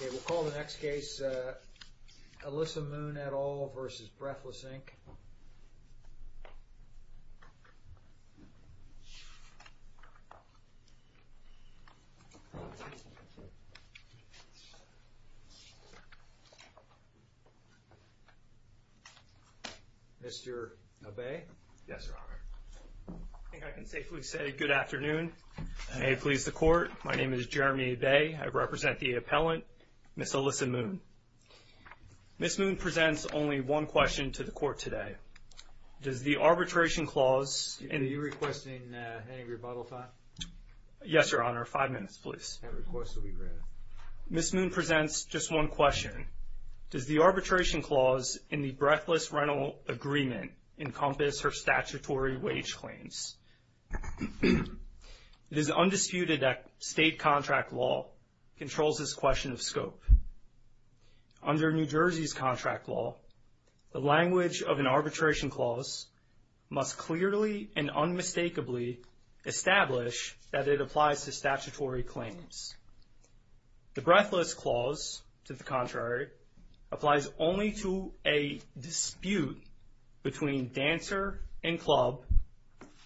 Okay, we'll call the next case Alyssa Moon et al. v. Breathless Inc. Mr. Obey? Yes, Your Honor. I think I can safely say good afternoon and may it please the Court. My name is Jeremy Obey. I represent the appellant, Ms. Alyssa Moon. Ms. Moon presents only one question to the Court today. Does the arbitration clause in the… Are you requesting any rebuttal time? Yes, Your Honor. Five minutes, please. That request will be granted. Ms. Moon presents just one question. Does the arbitration clause in the Breathless Rental Agreement encompass her statutory wage claims? It is undisputed that state contract law controls this question of scope. Under New Jersey's contract law, the language of an arbitration clause must clearly and unmistakably establish that it applies to statutory claims. The Breathless clause, to the contrary, applies only to a dispute between dancer and club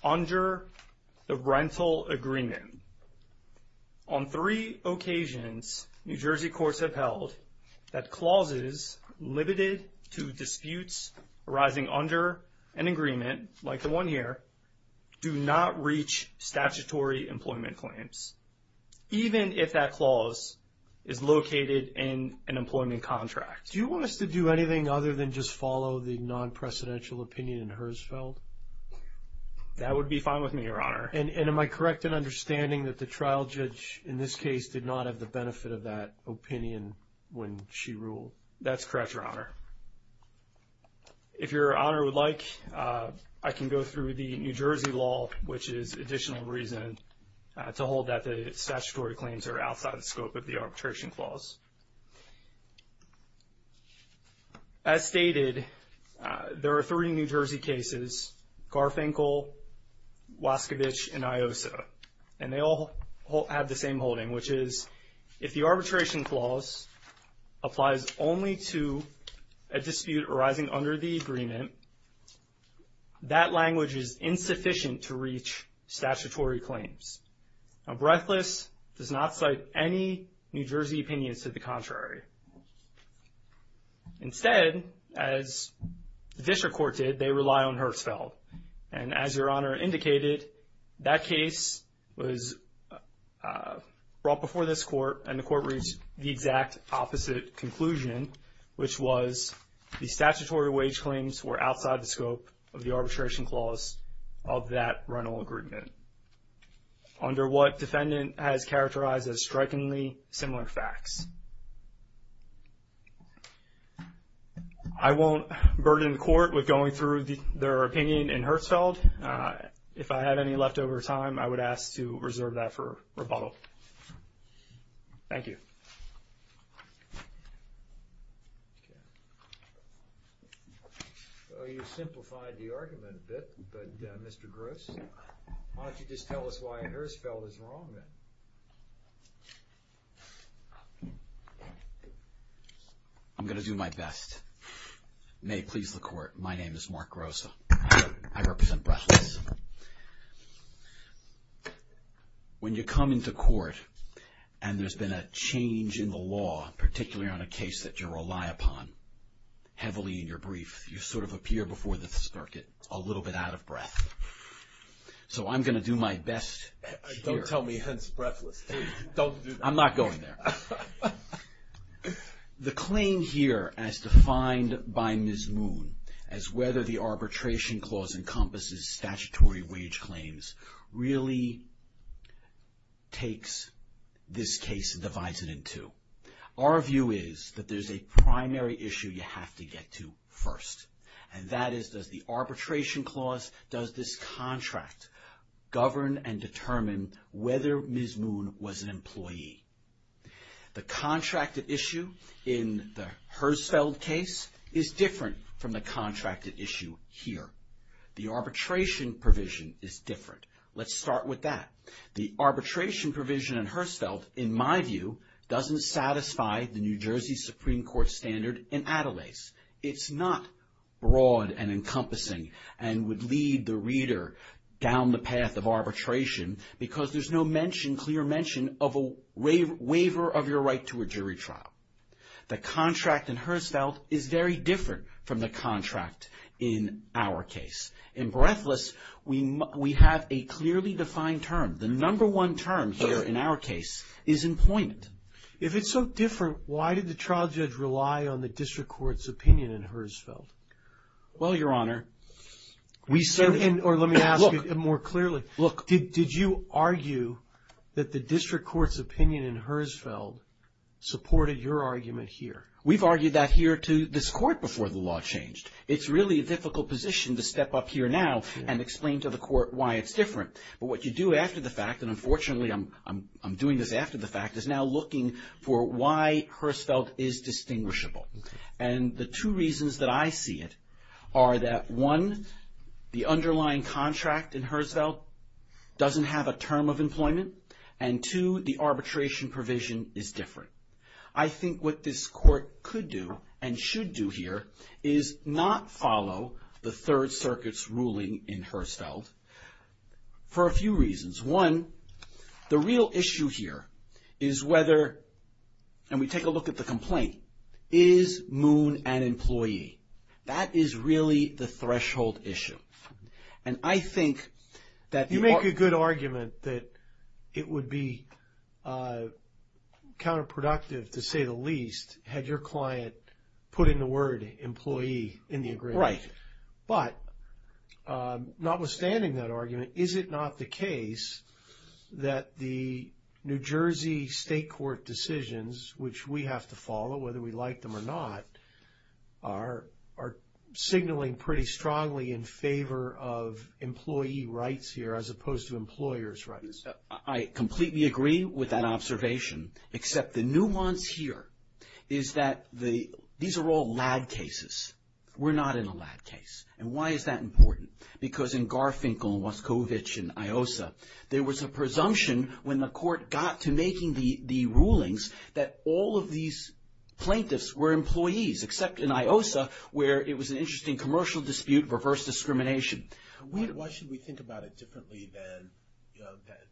under the rental agreement. On three occasions, New Jersey courts have held that clauses limited to disputes arising under an agreement, like the one here, do not reach statutory employment claims. Even if that clause is located in an employment contract. Do you want us to do anything other than just follow the non-presidential opinion in Herzfeld? That would be fine with me, Your Honor. And am I correct in understanding that the trial judge in this case did not have the benefit of that opinion when she ruled? That's correct, Your Honor. If Your Honor would like, I can go through the New Jersey law, which is additional reason to hold that the statutory claims are outside the scope of the arbitration clause. As stated, there are three New Jersey cases, Garfinkel, Waskevich, and Iossa. And they all have the same holding, which is, if the arbitration clause applies only to a dispute arising under the agreement, that language is insufficient to reach statutory claims. Now, Breathless does not cite any New Jersey opinions to the contrary. Instead, as the District Court did, they rely on Herzfeld. And as Your Honor indicated, that case was brought before this court, and the court reached the exact opposite conclusion, which was the statutory wage claims were outside the scope of the arbitration clause of that rental agreement, under what defendant has characterized as strikingly similar facts. I won't burden the court with going through their opinion in Herzfeld. If I have any leftover time, I would ask to reserve that for rebuttal. Thank you. Well, you simplified the argument a bit, but Mr. Gross, why don't you just tell us why Herzfeld is wrong then? I'm going to do my best. May it please the court, my name is Mark Gross. I represent Breathless. When you come into court, and there's been a change in the law, particularly on a case that you rely upon heavily in your brief, you sort of appear before this circuit a little bit out of breath. So I'm going to do my best here. Don't tell me, hence Breathless. Don't do that. I'm not going there. The claim here as defined by Ms. Moon, as whether the arbitration clause encompasses statutory wage claims, really takes this case and divides it in two. Our view is that there's a primary issue you have to get to first, and that is, does the arbitration clause, does this contract govern and determine whether Ms. Moon was an employee? The contracted issue in the Herzfeld case is different from the contracted issue here. The arbitration provision is different. Let's start with that. The arbitration provision in Herzfeld, in my view, doesn't satisfy the New Jersey Supreme Court standard in Adelaide. It's not broad and encompassing and would lead the reader down the path of arbitration because there's no mention, clear mention, of a waiver of your right to a jury trial. The contract in Herzfeld is very different from the contract in our case. In Breathless, we have a clearly defined term. The number one term here in our case is employment. If it's so different, why did the trial judge rely on the district court's opinion in Herzfeld? Well, Your Honor, we certainly Let me ask you more clearly. Did you argue that the district court's opinion in Herzfeld supported your argument here? We've argued that here to this court before the law changed. It's really a difficult position to step up here now and explain to the court why it's different. But what you do after the fact, and unfortunately I'm doing this after the fact, is now looking for why Herzfeld is distinguishable. And the two reasons that I see it are that, one, the underlying contract in Herzfeld doesn't have a term of employment, and two, the arbitration provision is different. I think what this court could do and should do here is not follow the Third Circuit's ruling in Herzfeld. For a few reasons. One, the real issue here is whether, and we take a look at the complaint, is Moon an employee? That is really the threshold issue. And I think that You make a good argument that it would be counterproductive to say the least had your client put in the word employee in the agreement. Right. But notwithstanding that argument, is it not the case that the New Jersey State Court decisions, which we have to follow whether we like them or not, are signaling pretty strongly in favor of employee rights here as opposed to employer's rights? I completely agree with that observation, except the nuance here is that these are all lad cases. We're not in a lad case. And why is that important? Because in Garfinkel and Waskovich and IOSA, there was a presumption when the court got to making the rulings that all of these plaintiffs were employees, except in IOSA where it was an interesting commercial dispute, reverse discrimination. Why should we think about it differently than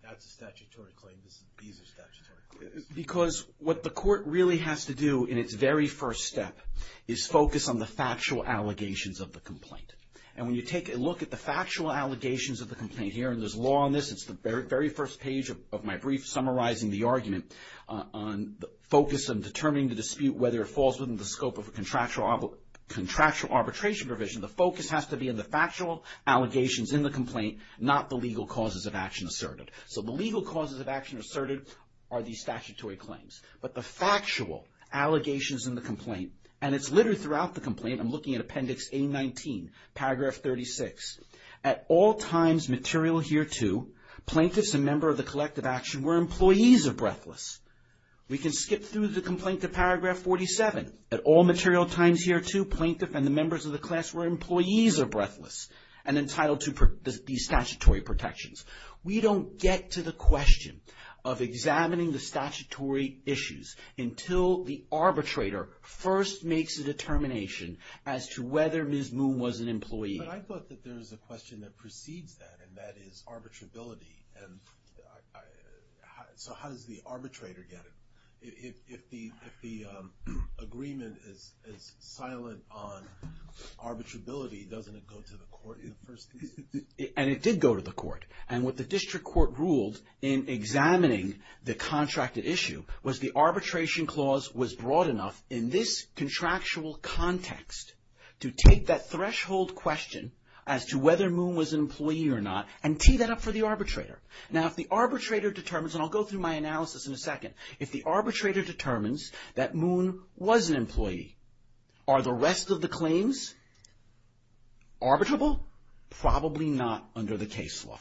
that's a statutory claim, these are statutory claims? Because what the court really has to do in its very first step is focus on the factual allegations of the complaint. And when you take a look at the factual allegations of the complaint here, and there's law on this, it's the very first page of my brief summarizing the argument on the focus of determining the dispute, whether it falls within the scope of a contractual arbitration provision, the focus has to be on the factual allegations in the complaint, not the legal causes of action asserted. So the legal causes of action asserted are these statutory claims. But the factual allegations in the complaint, and it's literally throughout the complaint, I'm looking at Appendix A19, Paragraph 36. At all times material hereto, plaintiffs and members of the collective action were employees of Breathless. We can skip through the complaint to Paragraph 47. At all material times hereto, plaintiff and the members of the class were employees of Breathless and entitled to these statutory protections. We don't get to the question of examining the statutory issues until the arbitrator first makes a determination as to whether Ms. Moon was an employee. But I thought that there was a question that precedes that, and that is arbitrability. And so how does the arbitrator get it? If the agreement is silent on arbitrability, doesn't it go to the court in the first place? And it did go to the court. And what the district court ruled in examining the contracted issue was the arbitration clause was broad enough in this contractual context to take that threshold question as to whether Moon was an employee or not and tee that up for the arbitrator. Now if the arbitrator determines, and I'll go through my analysis in a second, if the arbitrator determines that Moon was an employee, are the rest of the claims arbitrable? Probably not under the case law.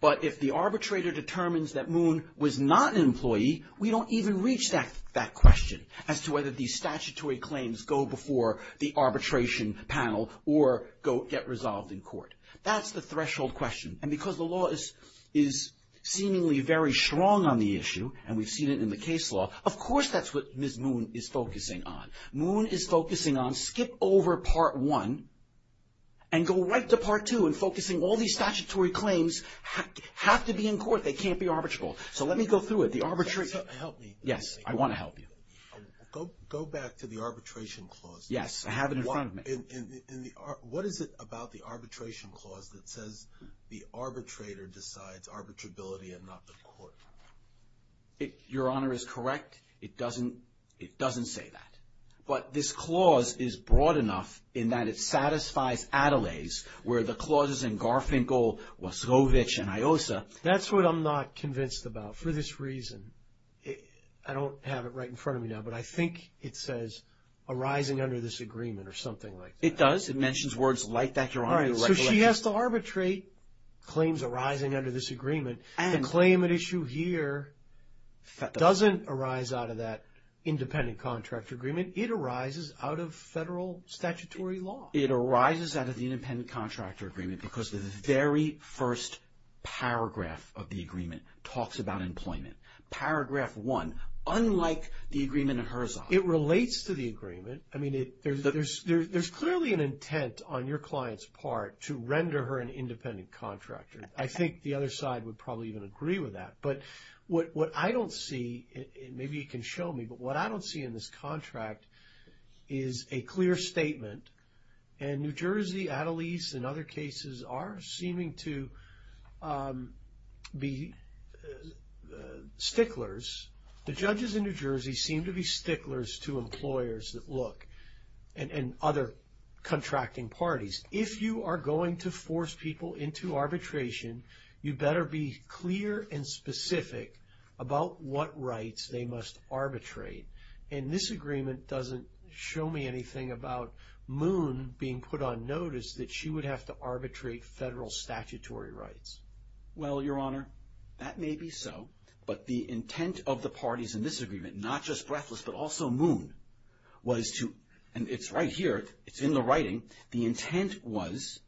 But if the arbitrator determines that Moon was not an employee, we don't even reach that question as to whether these statutory claims go before the arbitration panel or get resolved in court. That's the threshold question. And because the law is seemingly very strong on the issue, and we've seen it in the case law, of course that's what Ms. Moon is focusing on. Moon is focusing on skip over Part 1 and go right to Part 2 and focusing all these statutory claims have to be in court. They can't be arbitrable. So let me go through it. Help me. Yes, I want to help you. Go back to the arbitration clause. Yes, I have it in front of me. What is it about the arbitration clause that says the arbitrator decides arbitrability and not the court? Your Honor, it's correct. It doesn't say that. But this clause is broad enough in that it satisfies Adelaide's where the clauses in Garfinkel, Wasowich, and IOSA. That's what I'm not convinced about for this reason. I don't have it right in front of me now, but I think it says arising under this agreement or something like that. It does. It mentions words like that, Your Honor. So she has to arbitrate claims arising under this agreement. The claim at issue here doesn't arise out of that independent contractor agreement. It arises out of federal statutory law. It arises out of the independent contractor agreement because the very first paragraph of the agreement talks about employment. Paragraph one, unlike the agreement in Herzog. It relates to the agreement. I mean, there's clearly an intent on your client's part to render her an independent contractor. I think the other side would probably even agree with that. But what I don't see, and maybe you can show me, but what I don't see in this contract is a clear statement, and New Jersey, Adelaide, and other cases are seeming to be sticklers. The judges in New Jersey seem to be sticklers to employers that look and other contracting parties. If you are going to force people into arbitration, you better be clear and specific about what rights they must arbitrate. And this agreement doesn't show me anything about Moon being put on notice that she would have to arbitrate federal statutory rights. Well, Your Honor, that may be so, but the intent of the parties in this agreement, not just Breathless but also Moon, was to, and it's right here, it's in the writing, the intent was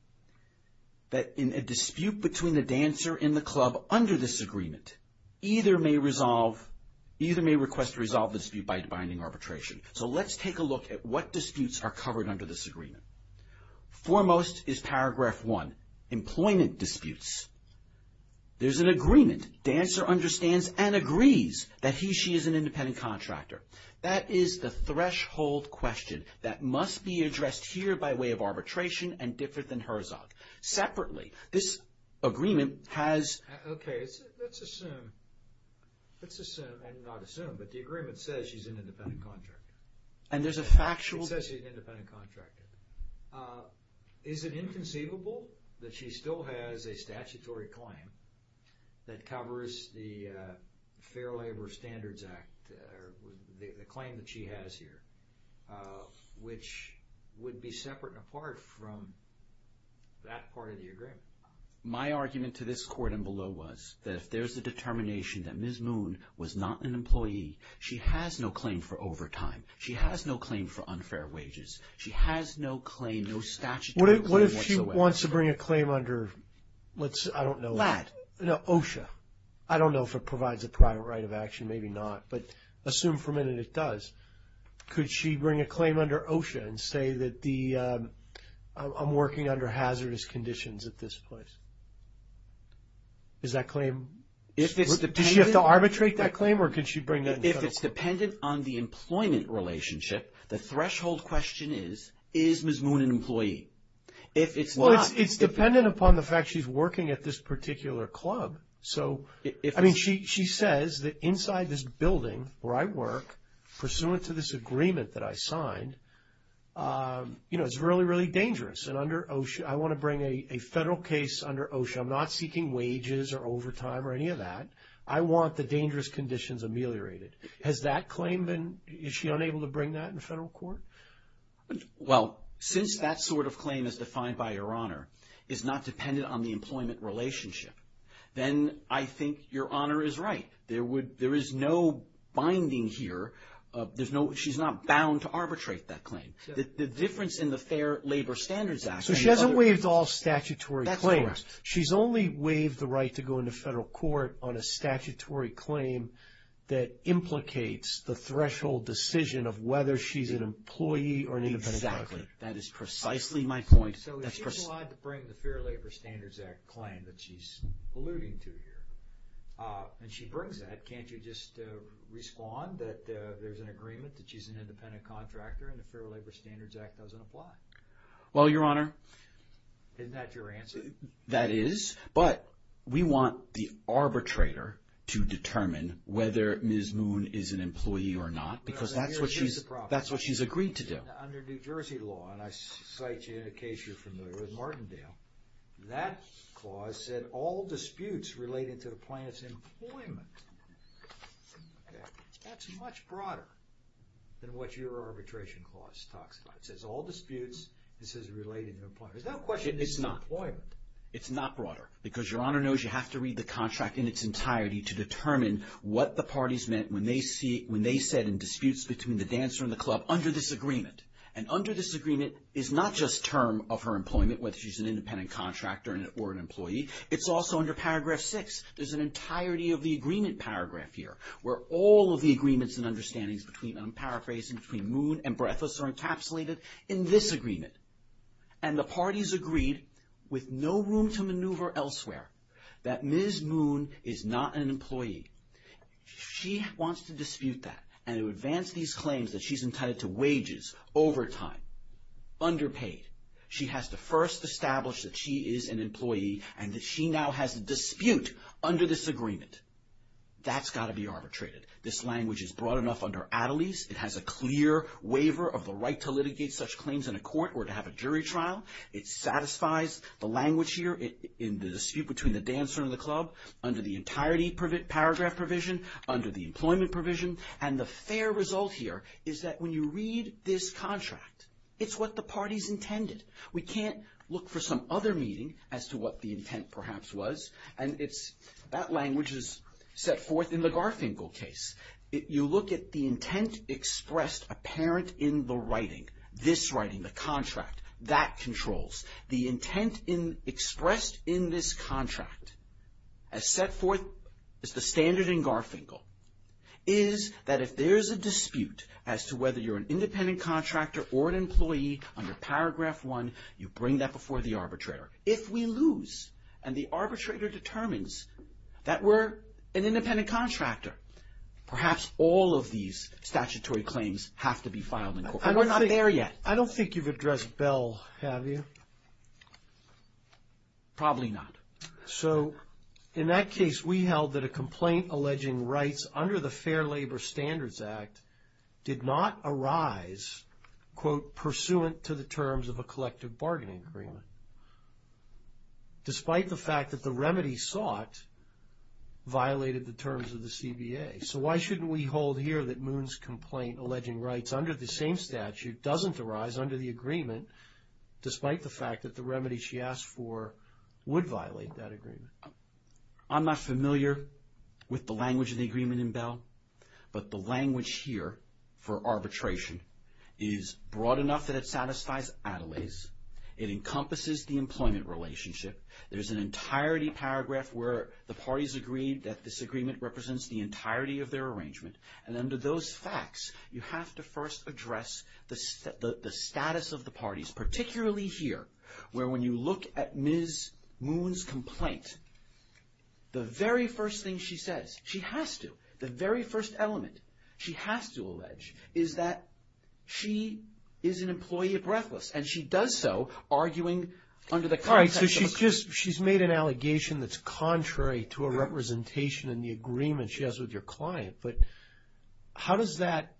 that in a dispute between the dancer and the club under this agreement, either may request to resolve the dispute by binding arbitration. So let's take a look at what disputes are covered under this agreement. Foremost is Paragraph 1, Employment Disputes. There's an agreement. Dancer understands and agrees that he or she is an independent contractor. That is the threshold question. That must be addressed here by way of arbitration and different than Herzog. Separately, this agreement has... Okay, let's assume, and not assume, but the agreement says she's an independent contractor. And there's a factual... It says she's an independent contractor. Is it inconceivable that she still has a statutory claim that covers the Fair Labor Standards Act, the claim that she has here, which would be separate and apart from that part of the agreement? My argument to this Court and below was that if there's a determination that Ms. Moon was not an employee, she has no claim for overtime. She has no claim for unfair wages. She has no claim, no statutory claim whatsoever. If she wants to bring a claim under, I don't know... LAT. OSHA. I don't know if it provides a private right of action. Maybe not, but assume for a minute it does. Could she bring a claim under OSHA and say that I'm working under hazardous conditions at this place? Is that claim... Does she have to arbitrate that claim or could she bring it in federal court? If it's dependent on the employment relationship, the threshold question is, is Ms. Moon an employee? Well, it's dependent upon the fact she's working at this particular club. So, I mean, she says that inside this building where I work, pursuant to this agreement that I signed, you know, it's really, really dangerous. And under OSHA, I want to bring a federal case under OSHA. I'm not seeking wages or overtime or any of that. I want the dangerous conditions ameliorated. Has that claim been... Is she unable to bring that in federal court? Well, since that sort of claim as defined by Your Honor is not dependent on the employment relationship, then I think Your Honor is right. There is no binding here. She's not bound to arbitrate that claim. The difference in the Fair Labor Standards Act... So she hasn't waived all statutory claims. That's correct. She's only waived the right to go into federal court on a statutory claim that implicates the threshold decision of whether she's an employee or an independent contractor. Exactly. That is precisely my point. So if she's allowed to bring the Fair Labor Standards Act claim that she's alluding to here, and she brings that, can't you just respond that there's an agreement that she's an independent contractor and the Fair Labor Standards Act doesn't apply? Well, Your Honor... Isn't that your answer? That is, but we want the arbitrator to determine whether Ms. Moon is an employee or not because that's what she's agreed to do. Under New Jersey law, and I cite you in a case you're familiar with, Martindale, that clause said all disputes related to the plaintiff's employment. That's much broader than what your arbitration clause talks about. It says all disputes. It says related to employment. There's no question it's employment. It's not. It's not broader because Your Honor knows you have to read the contract in its entirety to determine what the parties meant when they said in disputes between the dancer and the club, under this agreement, and under this agreement is not just term of her employment, whether she's an independent contractor or an employee. It's also under Paragraph 6. There's an entirety of the agreement paragraph here where all of the agreements and understandings between, and I'm paraphrasing, between Moon and Breathless are encapsulated in this agreement, and the parties agreed with no room to maneuver elsewhere that Ms. Moon is not an employee. She wants to dispute that and to advance these claims that she's entitled to wages, overtime, underpaid. She has to first establish that she is an employee and that she now has a dispute under this agreement. That's got to be arbitrated. This language is broad enough under Attlee's. It has a clear waiver of the right to litigate such claims in a court or to have a jury trial. It satisfies the language here in the dispute between the dancer and the club under the entirety paragraph provision, under the employment provision, and the fair result here is that when you read this contract, it's what the parties intended. We can't look for some other meaning as to what the intent perhaps was, and that language is set forth in the Garfinkel case. If you look at the intent expressed apparent in the writing, this writing, the contract, that controls. The intent expressed in this contract as set forth as the standard in Garfinkel is that if there is a dispute as to whether you're an independent contractor or an employee under paragraph one, you bring that before the arbitrator. If we lose and the arbitrator determines that we're an independent contractor, perhaps all of these statutory claims have to be filed in court. We're not there yet. I don't think you've addressed Bell, have you? Probably not. So in that case, we held that a complaint alleging rights under the Fair Labor Standards Act did not arise, quote, pursuant to the terms of a collective bargaining agreement, despite the fact that the remedy sought violated the terms of the CBA. So why shouldn't we hold here that Moon's complaint alleging rights under the same statute doesn't arise under the agreement, despite the fact that the remedy she asked for would violate that agreement? I'm not familiar with the language of the agreement in Bell, but the language here for arbitration is broad enough that it satisfies Adelaide's. It encompasses the employment relationship. There's an entirety paragraph where the parties agree that this agreement represents the entirety of their arrangement. And under those facts, you have to first address the status of the parties, particularly here, where when you look at Ms. Moon's complaint, the very first thing she says, she has to, the very first element she has to allege is that she is an employee at Breathless, and she does so arguing under the context of a statute. All right, so she's made an allegation that's contrary to a representation in the agreement she has with your client. But how does that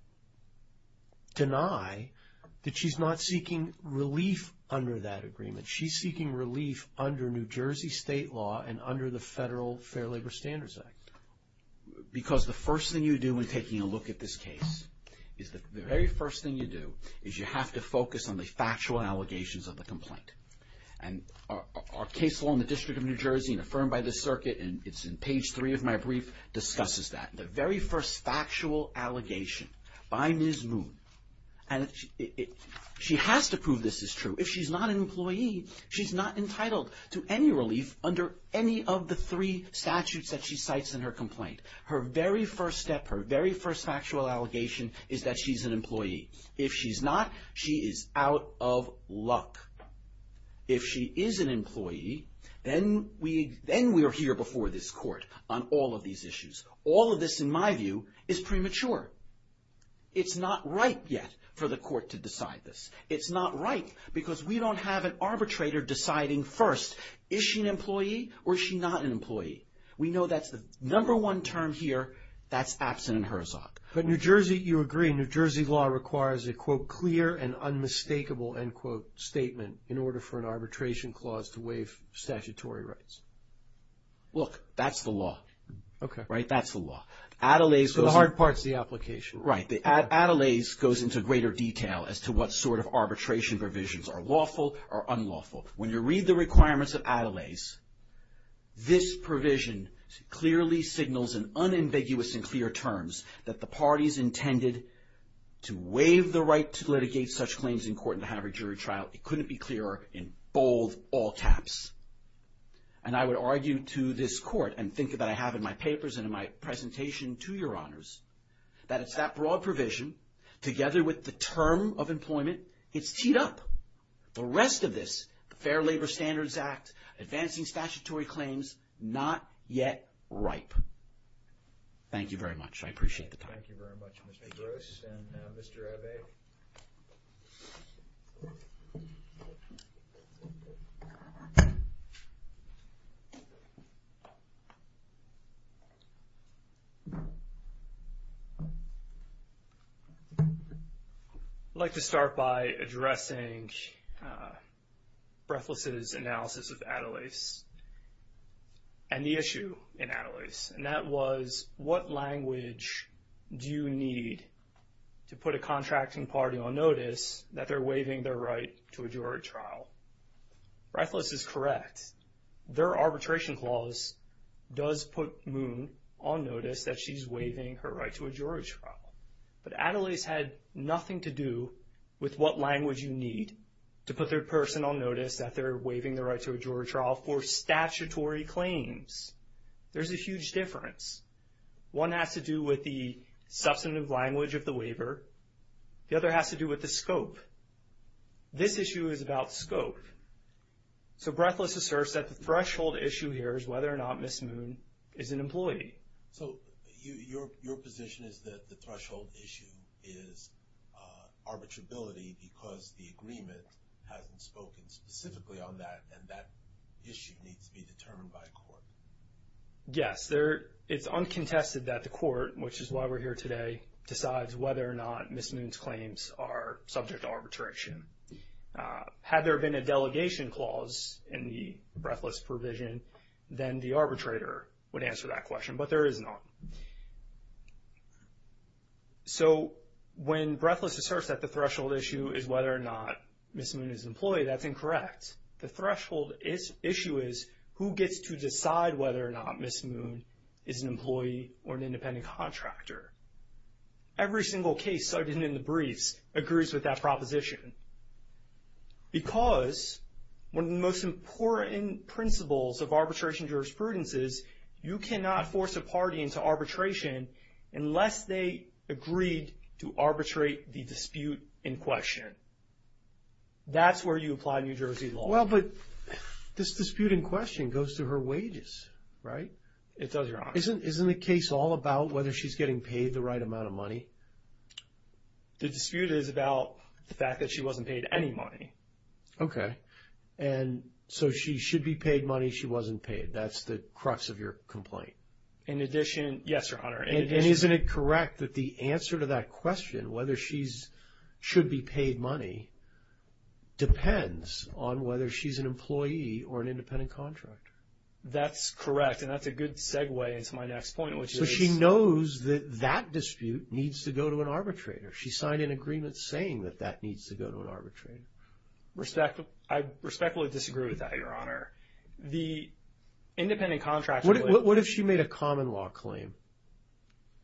deny that she's not seeking relief under that agreement? She's seeking relief under New Jersey state law and under the Federal Fair Labor Standards Act. Because the first thing you do when taking a look at this case is the very first thing you do is you have to focus on the factual allegations of the complaint. And our case law in the District of New Jersey and affirmed by the circuit, and it's in page three of my brief, discusses that. The very first factual allegation by Ms. Moon, and she has to prove this is true. If she's not an employee, she's not entitled to any relief under any of the three statutes that she cites in her complaint. Her very first step, her very first factual allegation is that she's an employee. If she's not, she is out of luck. If she is an employee, then we are here before this court on all of these issues. All of this, in my view, is premature. It's not right yet for the court to decide this. It's not right because we don't have an arbitrator deciding first, is she an employee or is she not an employee? We know that's the number one term here. That's absent in HERZOG. But New Jersey, you agree, New Jersey law requires a, quote, clear and unmistakable, end quote, statement in order for an arbitration clause to waive statutory rights. Look, that's the law. Okay. Right? That's the law. So the hard part is the application. Right. Adelaide's goes into greater detail as to what sort of arbitration provisions are lawful or unlawful. When you read the requirements of Adelaide's, this provision clearly signals in unambiguous and clear terms that the parties intended to waive the right to litigate such claims in court and to have a jury trial. It couldn't be clearer in bold, all caps. And I would argue to this court and think that I have in my papers and in my presentation to your honors that it's that broad provision together with the term of employment, it's teed up. The rest of this, the Fair Labor Standards Act, advancing statutory claims, not yet ripe. Thank you very much. I appreciate the time. Thank you very much, Mr. Gross and Mr. Abate. I'd like to start by addressing Breathless' analysis of Adelaide's and the issue in Adelaide's, and that was what language do you need to put a contracting party on notice that they're waiving their right to a jury trial? Breathless is correct. Their arbitration clause does put Moon on notice that she's waiving her right to a jury trial. But Adelaide's had nothing to do with what language you need to put their person on notice that they're waiving their right to a jury trial for statutory claims. There's a huge difference. One has to do with the substantive language of the waiver. The other has to do with the scope. This issue is about scope. So Breathless asserts that the threshold issue here is whether or not Ms. Moon is an employee. So your position is that the threshold issue is arbitrability because the agreement hasn't spoken specifically on that and that issue needs to be determined by a court. Yes. It's uncontested that the court, which is why we're here today, decides whether or not Ms. Moon's claims are subject to arbitration. Had there been a delegation clause in the Breathless provision, then the arbitrator would answer that question, but there is not. So when Breathless asserts that the threshold issue is whether or not Ms. Moon is an employee, that's incorrect. The threshold issue is who gets to decide whether or not Ms. Moon is an employee or an independent contractor. Every single case cited in the briefs agrees with that proposition because one of the most important principles of arbitration jurisprudence is you cannot force a party into arbitration unless they agreed to arbitrate the dispute in question. That's where you apply New Jersey law. Well, but this dispute in question goes to her wages, right? It does, Your Honor. Isn't the case all about whether she's getting paid the right amount of money? The dispute is about the fact that she wasn't paid any money. Okay. And so she should be paid money, she wasn't paid. That's the crux of your complaint. In addition, yes, Your Honor. And isn't it correct that the answer to that question, whether she should be paid money, depends on whether she's an employee or an independent contractor? That's correct, and that's a good segue into my next point, which is So she knows that that dispute needs to go to an arbitrator. She signed an agreement saying that that needs to go to an arbitrator. I respectfully disagree with that, Your Honor. The independent contractor What if she made a common law claim?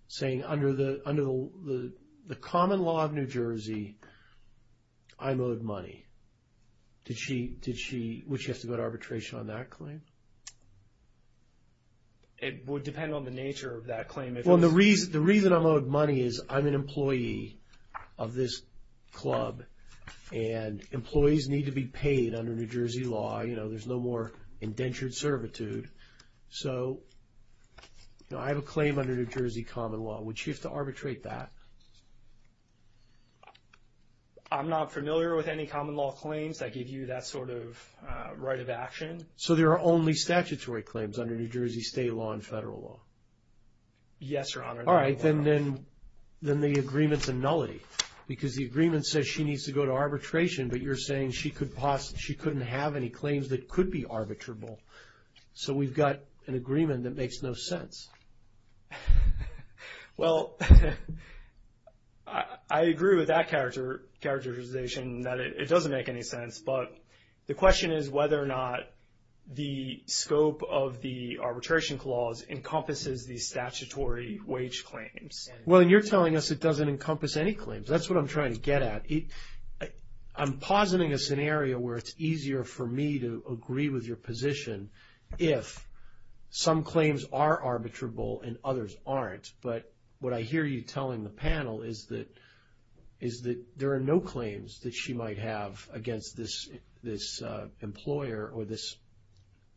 Saying under the common law of New Jersey, I'm owed money. Would she have to go to arbitration on that claim? It would depend on the nature of that claim. The reason I'm owed money is I'm an employee of this club, and employees need to be paid under New Jersey law. There's no more indentured servitude. So I have a claim under New Jersey common law. Would she have to arbitrate that? I'm not familiar with any common law claims that give you that sort of right of action. So there are only statutory claims under New Jersey state law and federal law? Yes, Your Honor. All right, then the agreement's a nullity, because the agreement says she needs to go to arbitration, but you're saying she couldn't have any claims that could be arbitrable. So we've got an agreement that makes no sense. Well, I agree with that characterization that it doesn't make any sense, but the question is whether or not the scope of the arbitration clause encompasses the statutory wage claims. Well, you're telling us it doesn't encompass any claims. That's what I'm trying to get at. I'm positing a scenario where it's easier for me to agree with your position if some claims are arbitrable and others aren't. But what I hear you telling the panel is that there are no claims that she might have against this employer or this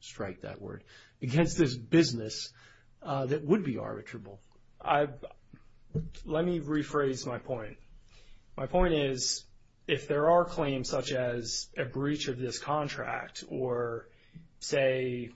strike, that word, against this business that would be arbitrable. Let me rephrase my point. My point is if there are claims such as a breach of this contract or say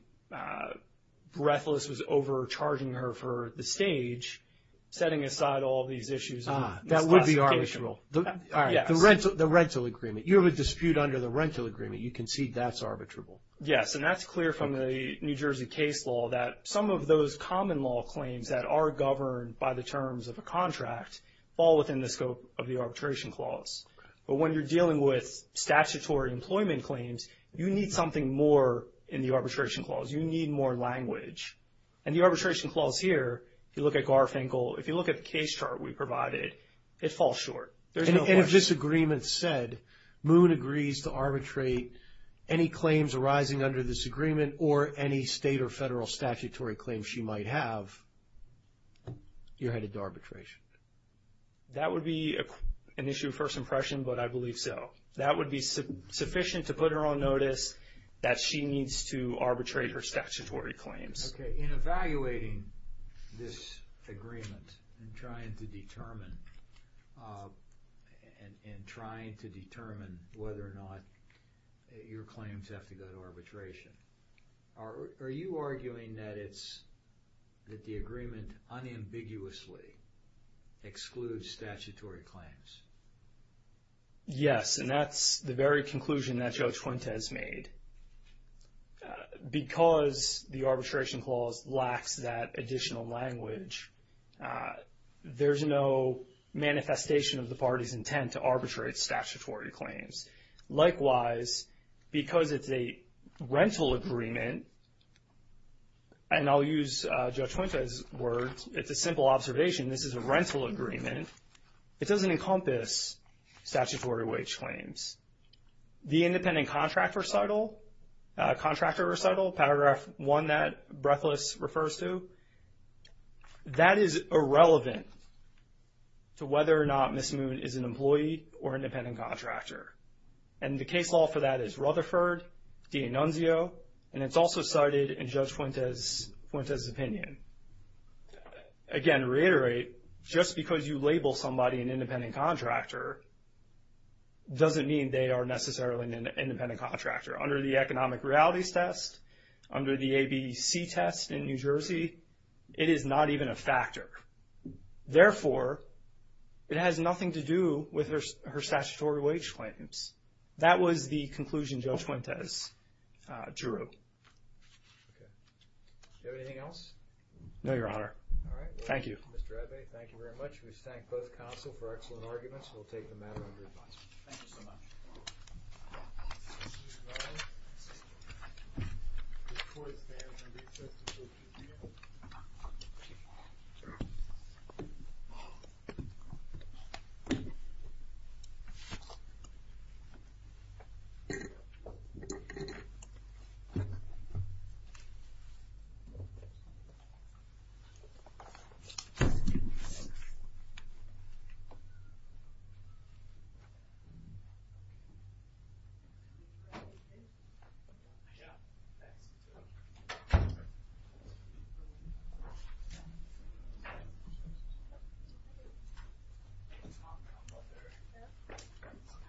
Breathless was overcharging her for the stage, setting aside all these issues on this classification. Ah, that would be arbitrable. Yes. The rental agreement. You have a dispute under the rental agreement. You concede that's arbitrable. Yes, and that's clear from the New Jersey case law that some of those common law claims that are governed by the terms of a contract fall within the scope of the arbitration clause. But when you're dealing with statutory employment claims, you need something more in the arbitration clause. You need more language. And the arbitration clause here, if you look at Garfinkel, if you look at the case chart we provided, it falls short. There's no question. And if this agreement said, Moon agrees to arbitrate any claims arising under this agreement or any state or federal statutory claims she might have, you're headed to arbitration. That would be an issue of first impression, but I believe so. That would be sufficient to put her on notice that she needs to arbitrate her statutory claims. Okay. In evaluating this agreement, in trying to determine whether or not your claims have to go to arbitration, are you arguing that the agreement unambiguously excludes statutory claims? Yes, and that's the very conclusion that Judge Fuentes made. Because the arbitration clause lacks that additional language, there's no manifestation of the party's intent to arbitrate statutory claims. Likewise, because it's a rental agreement, and I'll use Judge Fuentes' words, it's a simple observation. This is a rental agreement. It doesn't encompass statutory wage claims. The independent contractor recital, paragraph one that Breathless refers to, that is irrelevant to whether or not Ms. Moon is an employee or independent contractor. And the case law for that is Rutherford v. Nunzio, and it's also cited in Judge Fuentes' opinion. Again, to reiterate, just because you label somebody an independent contractor doesn't mean they are necessarily an independent contractor. Under the economic realities test, under the ABC test in New Jersey, it is not even a factor. Therefore, it has nothing to do with her statutory wage claims. That was the conclusion Judge Fuentes drew. Okay. Do you have anything else? No, Your Honor. All right. Thank you. Mr. Abbey, thank you very much. We thank both counsel for excellent arguments. We'll take the matter under advice. Thank you so much.